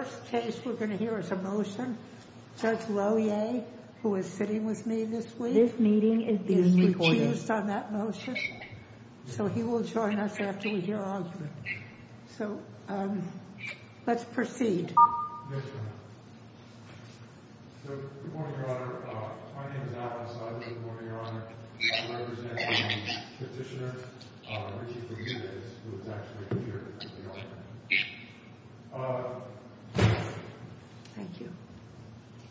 The first case we're going to hear is a motion. Judge Lohier, who is sitting with me this week, has recused on that motion, so he will join us after we hear argument. So, let's proceed. Good morning, Your Honor. My name is Alan Sutton. Good morning, Your Honor. I represent the petitioner, Richard Bermudez, who is actually here. Thank you.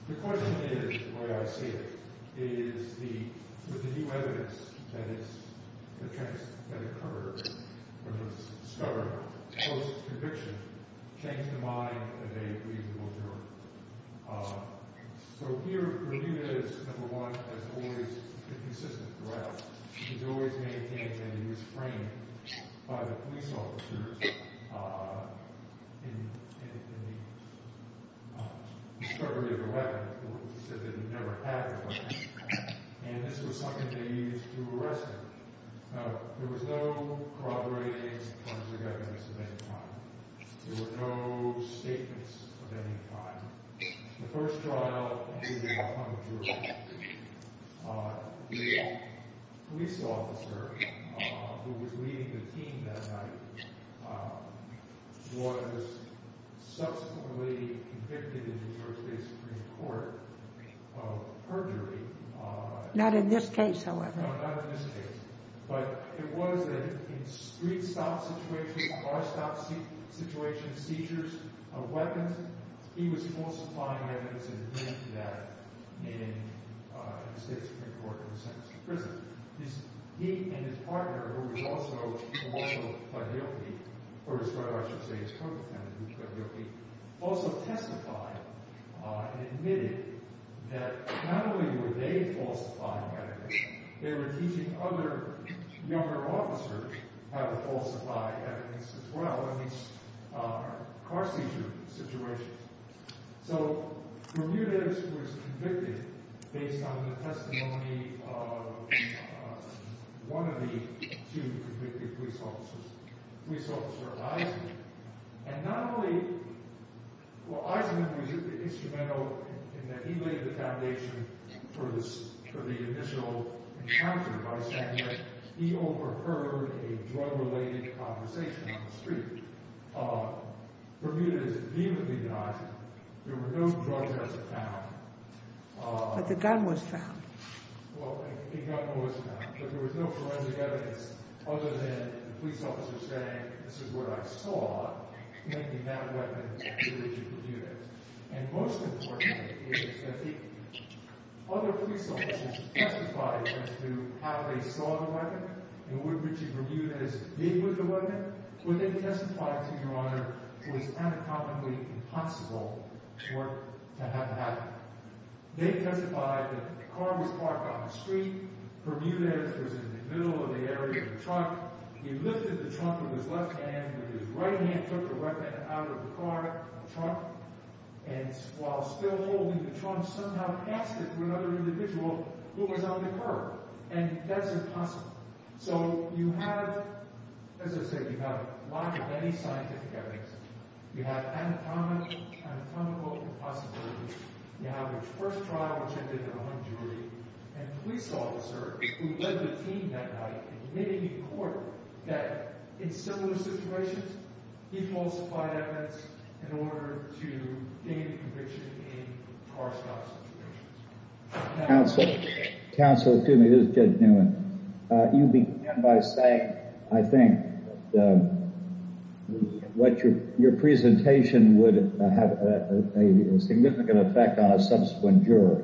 The question is, the way I see it, is with the new evidence, that is, the text that occurred when it was discovered post-conviction changed the mind of a reasonable juror. So here, Bermudez, number one, has always been consistent throughout. He's always maintained that he was framed by the police officers in the discovery of the weapon. He said that he never had the weapon, and this was something they used to arrest him. There was no corroborating of any kind. There were no statements of any kind. The first trial, the police officer who was leading the team that night was subsequently convicted in the New York State Supreme Court of perjury. Not in this case, however. No, not in this case. But it was a street stop situation, car stop situation, seizures of weapons. He was falsifying evidence and did that in the State Supreme Court and was sentenced to prison. He and his partner, who was also, I should say, his co-defendant, also testified and admitted that not only were they falsifying evidence, they were teaching other younger officers how to falsify evidence as well in these car seizure situations. So, Bermudez was convicted based on the testimony of one of the two convicted police officers, police officer Eisenman. Eisenman was instrumental in that he laid the foundation for the initial encounter by saying that he overheard a drug-related conversation on the street. Bermudez vehemently denied it. There were no drugs that were found. But the gun was found. Well, the gun was found. But there was no forensic evidence other than the police officer saying, this is what I saw, making that a weapon to Richard Bermudez. And most important is that the other police officers testified as to how they saw the weapon and would Richard Bermudez deal with the weapon, but they testified to Your Honor, it was unaccountably impossible for it to have happened. They testified that the car was parked on the street, Bermudez was in the middle of the area of the truck, he lifted the trunk with his left hand and his right hand took the weapon out of the car, the truck, and while still holding the trunk, somehow passed it to another individual who was on the curb. And that's impossible. So you have, as I said, you have a lot of many scientific evidence. You have anatomical possibilities. You have the first trial which ended in a hung jury, and a police officer who led the team that night in committing in court that in similar situations, he falsified evidence in order to gain a conviction in car-stop situations. Counsel, counsel, excuse me, this is Judge Newman. You began by saying, I think, that your presentation would have a significant effect on a subsequent jury.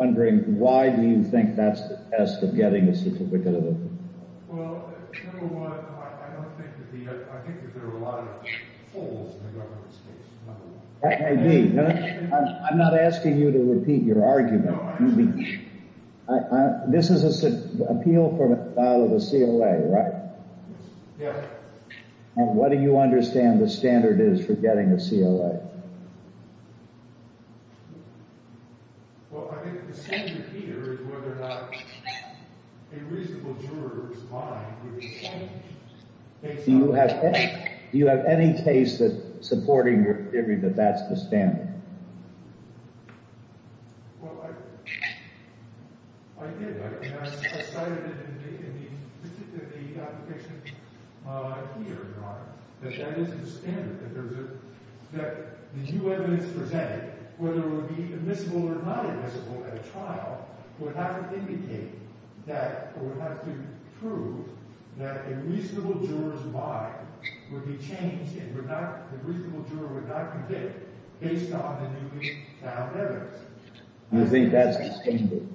I'm wondering, why do you think that's the test of getting a certificate of opinion? Well, you know what, I don't think that the, I think that there are a lot of fools in the government space. That may be. I'm not asking you to repeat your argument. This is an appeal for a file of a COA, right? Yes. And what do you understand the standard is for getting a COA? Well, I think the standard here is whether or not a reasonable juror is buying the case. Do you have any case that's supporting your theory that that's the standard? Well, I did. I cited it in the application here, Your Honor, that that is the standard, that there's a, that the new evidence presented, whether it would be admissible or not admissible at a trial, would have to indicate that, or would have to prove that a reasonable juror's buy would be changed and would not, a reasonable juror would not convict based on the evidence presented. Do you think that's the standard?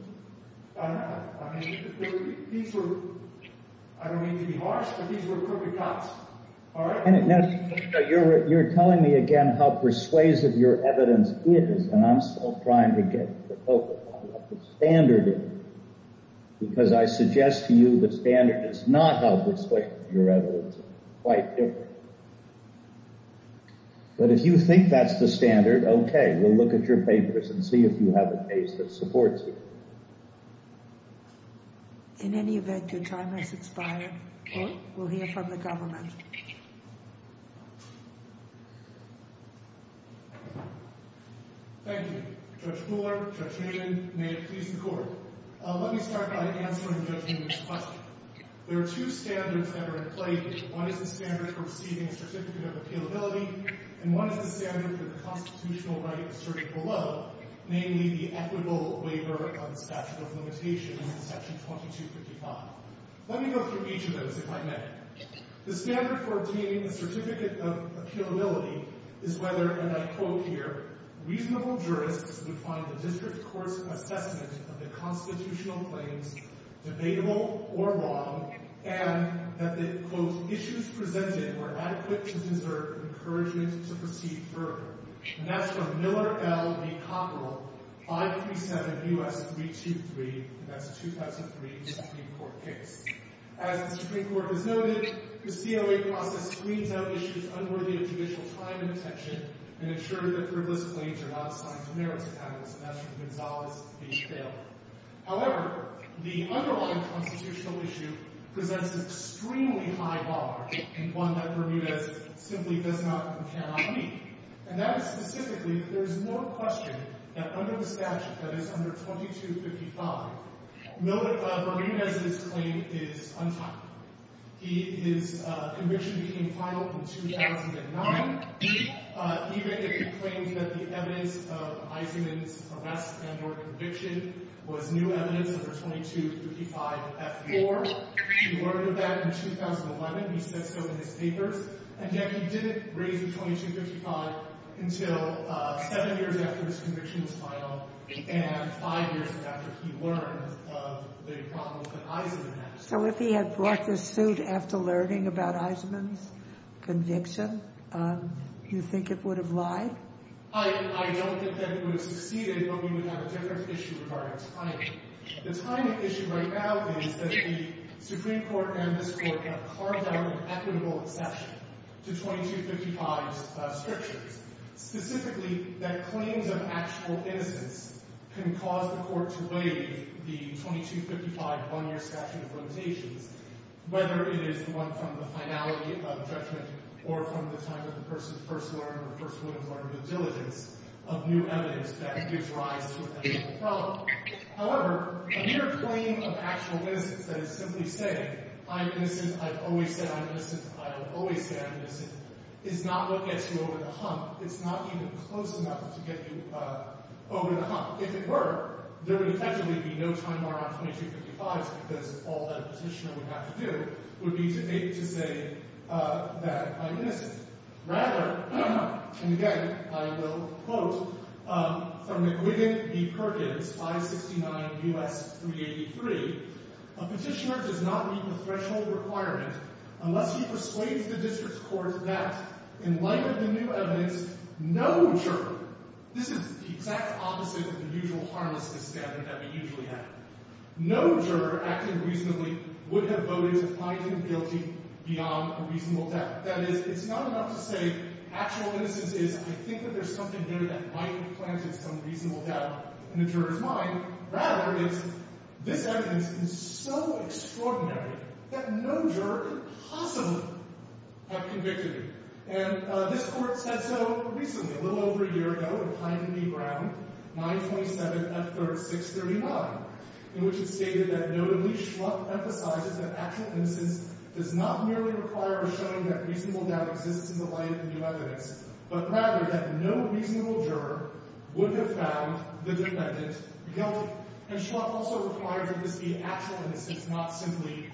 I don't know. I mean, these were, I don't mean to be harsh, but these were crooked cuts. All right. You're telling me again how persuasive your evidence is, and I'm still trying to get the standard in, because I suggest to you the standard is not how persuasive your evidence is. It's quite different. But if you think that's the standard, okay, we'll look at your papers and see if you have a case that supports you. In any event, your time has expired. Court will hear from the government. Thank you. Judge Mueller, Judge Hayden, may it please the Court. Let me start by answering Judge Newman's question. There are two standards that are in play. One is the standard for receiving a certificate of appealability, and one is the standard for the constitutional right asserted below, namely the equitable waiver of the statute of limitations in section 2255. Let me go through each of those, if I may. The standard for obtaining a certificate of appealability is whether, and I quote here, reasonable jurists would find the district court's assessment of the constitutional claims debatable or wrong, and that the, quote, issues presented were adequate to deserve encouragement to proceed further. And that's from Miller L. v. Cockerell, 537 U.S. 323, and that's a 2003 Supreme Court case. As the Supreme Court has noted, the COA process screens out issues unworthy of judicial time and attention and ensures that frivolous claims are not assigned to merits accountants, and that's from Gonzales v. Thaler. However, the underlying constitutional issue presents an extremely high bar and one that Bermudez simply does not and cannot meet. And that is specifically that there is no question that under the statute that is under 2255, Miller – Bermudez's claim is untouchable. He – his conviction became final in 2009, even if he claimed that the evidence of Eisenman's arrest and or conviction was new evidence under 2255F4. He learned of that in 2011. He said so in his papers. And yet he didn't raise the 2255 until seven years after his conviction was final and five years after he learned of the problems that Eisenman had. So if he had brought this suit after learning about Eisenman's conviction, you think it would have lied? I don't think that it would have succeeded, but we would have a different issue regarding timing. The timing issue right now is that the Supreme Court and this Court have carved out an equitable exception to 2255's restrictions, specifically that claims of actual innocence can cause the Court to waive the 2255 one-year statute of limitations, whether it is the one from the finality of judgment or from the time of the person's first learned or first woman's learned of diligence of new evidence that gives rise to a technical problem. However, a mere claim of actual innocence—that is, simply saying, I'm innocent, I've always said I'm innocent, I'll always say I'm innocent—is not what gets you over the hump. It's not even close enough to get you over the hump. If it were, there would effectively be no time bar on 2255, because all that a petitioner would have to do would be to say that I'm innocent. Rather, and again, I will quote from McGuigan v. Perkins, 569 U.S. 383, a petitioner does not meet the threshold requirement unless he persuades the district court that, in light of the new evidence, no juror— this is the exact opposite of the usual harmlessness standard that we usually have— no juror acting reasonably would have voted to find him guilty beyond a reasonable doubt. That is, it's not enough to say actual innocence is, I think that there's something there that might have planted some reasonable doubt in the juror's mind. Rather, it's, this evidence is so extraordinary that no juror could possibly have convicted him. And this court said so recently, a little over a year ago, in Hyndman v. Brown, 927 F. 3639, in which it stated that, notably, Schlupf emphasizes that actual innocence does not merely require a showing that reasonable doubt exists in the light of the new evidence, but rather that no reasonable juror would have found the defendant guilty. And Schlupf also requires that this be actual innocence, not simply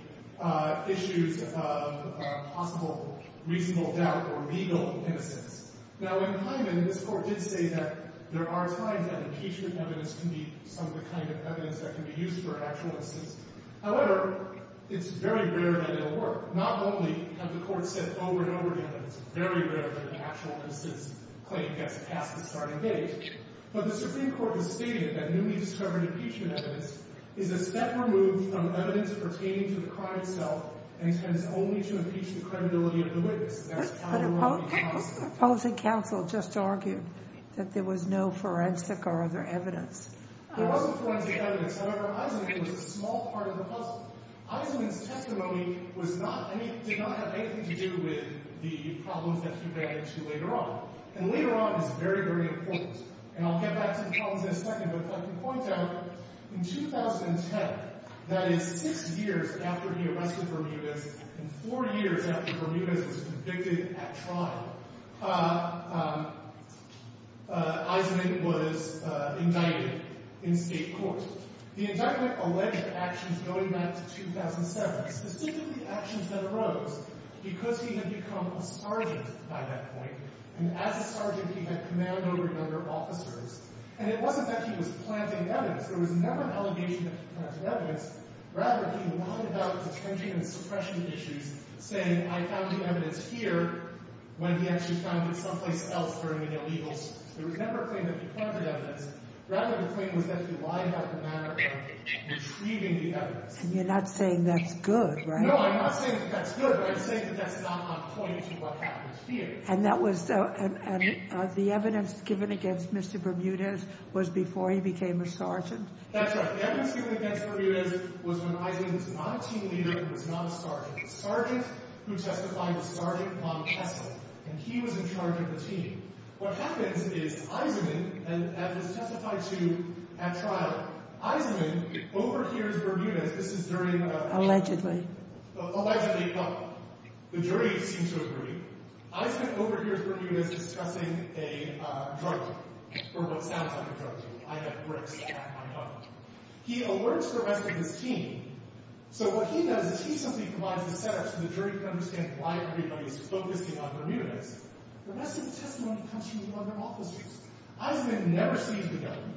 issues of possible reasonable doubt or legal innocence. Now, in Hyndman, this court did say that there are times that impeachment evidence can be some of the kind of evidence that can be used for actual innocence. However, it's very rare that it'll work. Not only have the courts said over and over again that it's very rare that an actual innocence claim gets passed at the starting date, but the Supreme Court has stated that newly discovered impeachment evidence is a step removed from evidence pertaining to the crime itself and tends only to impeach the credibility of the witness. That's how it will be possible. But a policy counsel just argued that there was no forensic or other evidence. There was no forensic evidence. However, Eisenman was a small part of the puzzle. Eisenman's testimony did not have anything to do with the problems that he ran into later on. And later on is very, very important. And I'll get back to the problems in a second. But I can point out in 2010, that is six years after he arrested Bermudez and four years after Bermudez was convicted at trial, Eisenman was indicted in state court. The indictment alleged actions going back to 2007, specifically actions that arose because he had become a sergeant by that point. And as a sergeant, he had command over a number of officers. And it wasn't that he was planting evidence. There was never an allegation that he planted evidence. Rather, he lied about the infringing and suppression issues, saying, I found the evidence here, when he actually found it someplace else during the illegals. There was never a claim that he planted evidence. Rather, the claim was that he lied about the matter of retrieving the evidence. And you're not saying that's good, right? No, I'm not saying that that's good, but I'm saying that that's not on point to what happens here. And the evidence given against Mr. Bermudez was before he became a sergeant? That's right. The evidence given against Bermudez was when Eisenman was not a team leader and was not a sergeant. The sergeant who testified was Sergeant Ron Kessel. And he was in charge of the team. What happens is Eisenman, as was testified to at trial, Eisenman overhears Bermudez. This is during a trial. Allegedly. Allegedly. The jury seems to agree. Eisenman overhears Bermudez discussing a drug deal, or what sounds like a drug deal. I have bricks at my home. He alerts the rest of his team. So what he does is he simply provides the setups for the jury to understand why everybody is focusing on Bermudez. The rest of the testimony comes from one of their officers. Eisenman never sees the gun.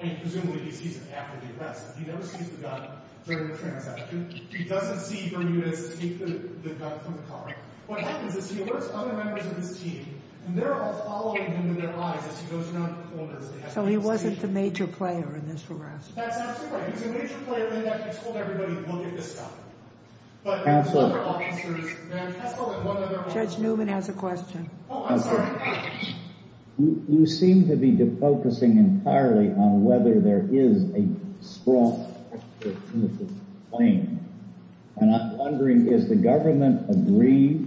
And presumably, he sees it after the arrest. He never sees the gun during the transaction. He doesn't see Bermudez take the gun from the car. What happens is he alerts other members of his team. And they're all following him in their eyes as he goes around the corners. So he wasn't the major player in this arrest. That's absolutely right. He's a major player in that he's told everybody, look at this stuff. But other officers— Counselor. Judge Newman has a question. Oh, I'm sorry. You seem to be focusing entirely on whether there is a strong alternative claim. And I'm wondering, does the government agree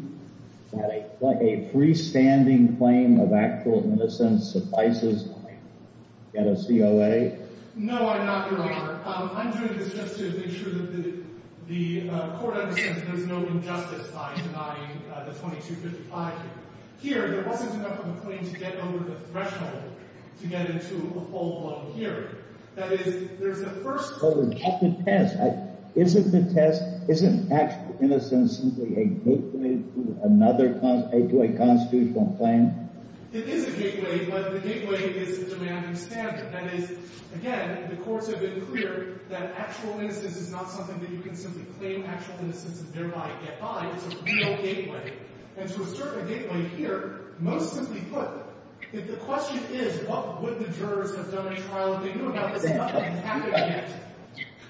that a freestanding claim of actual innocence suffices to get a COA? No, I'm not, Your Honor. I'm doing this just to make sure that the court understands there's no injustice by denying the 2255 here. Here, there wasn't enough of a claim to get over the threshold to get into a full-blown hearing. That is, there's a first— Isn't the test—isn't actual innocence simply a gateway to another—to a constitutional claim? It is a gateway, but the gateway is the demanding standard. That is, again, the courts have been clear that actual innocence is not something that you can simply claim actual innocence and thereby get by. It's a real gateway. And to assert a gateway here, most simply put, the question is, what would the jurors have done in trial if they knew about this?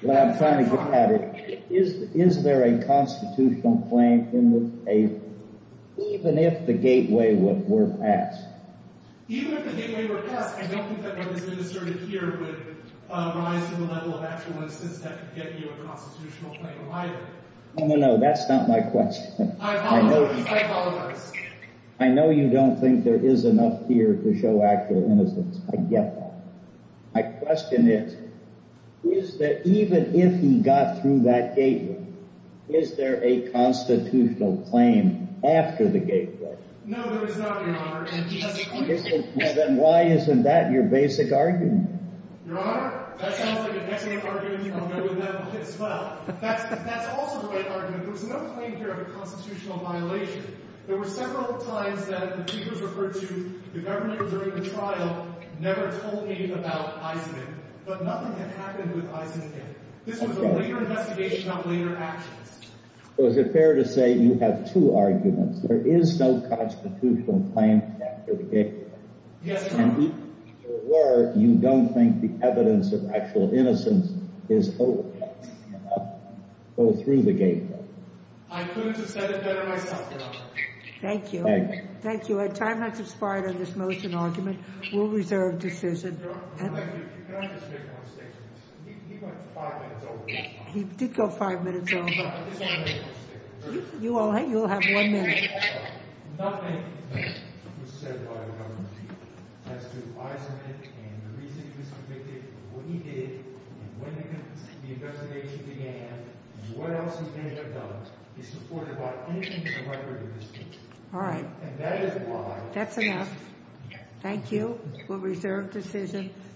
Well, I'm trying to get at it. Is there a constitutional claim even if the gateway were passed? Even if the gateway were passed, I don't think that what has been asserted here would rise to the level of actual innocence that could get you a constitutional claim either. No, no, no, that's not my question. I apologize. I know you don't think there is enough here to show actual innocence. I get that. My question is, is that even if he got through that gateway, is there a constitutional claim after the gateway? No, there is not, Your Honor. Then why isn't that your basic argument? Your Honor, that sounds like a basic argument from no one that will hit swell. In fact, that's also the right argument. There's no claim here of a constitutional violation. There were several times that the people referred to the government during the trial never told me about Eisenman. But nothing had happened with Eisenman. This was a later investigation of later actions. So is it fair to say you have two arguments? There is no constitutional claim after the gateway. Yes, Your Honor. And even if there were, you don't think the evidence of actual innocence is open enough to go through the gateway? I couldn't have said it better myself, Your Honor. Thank you. Thank you. I'd try not to spide on this motion argument. We'll reserve decision. Your Honor, you can't just make one statement. He went five minutes over this time. He did go five minutes over. I just want to make one statement. You'll have one minute. Nothing was said by the government as to Eisenman and the reasons he was convicted, what he did, when the investigation began, and what else he may have done is supported by anything in the record of this case. All right. And that is why— That's enough. Thank you. We'll reserve decision.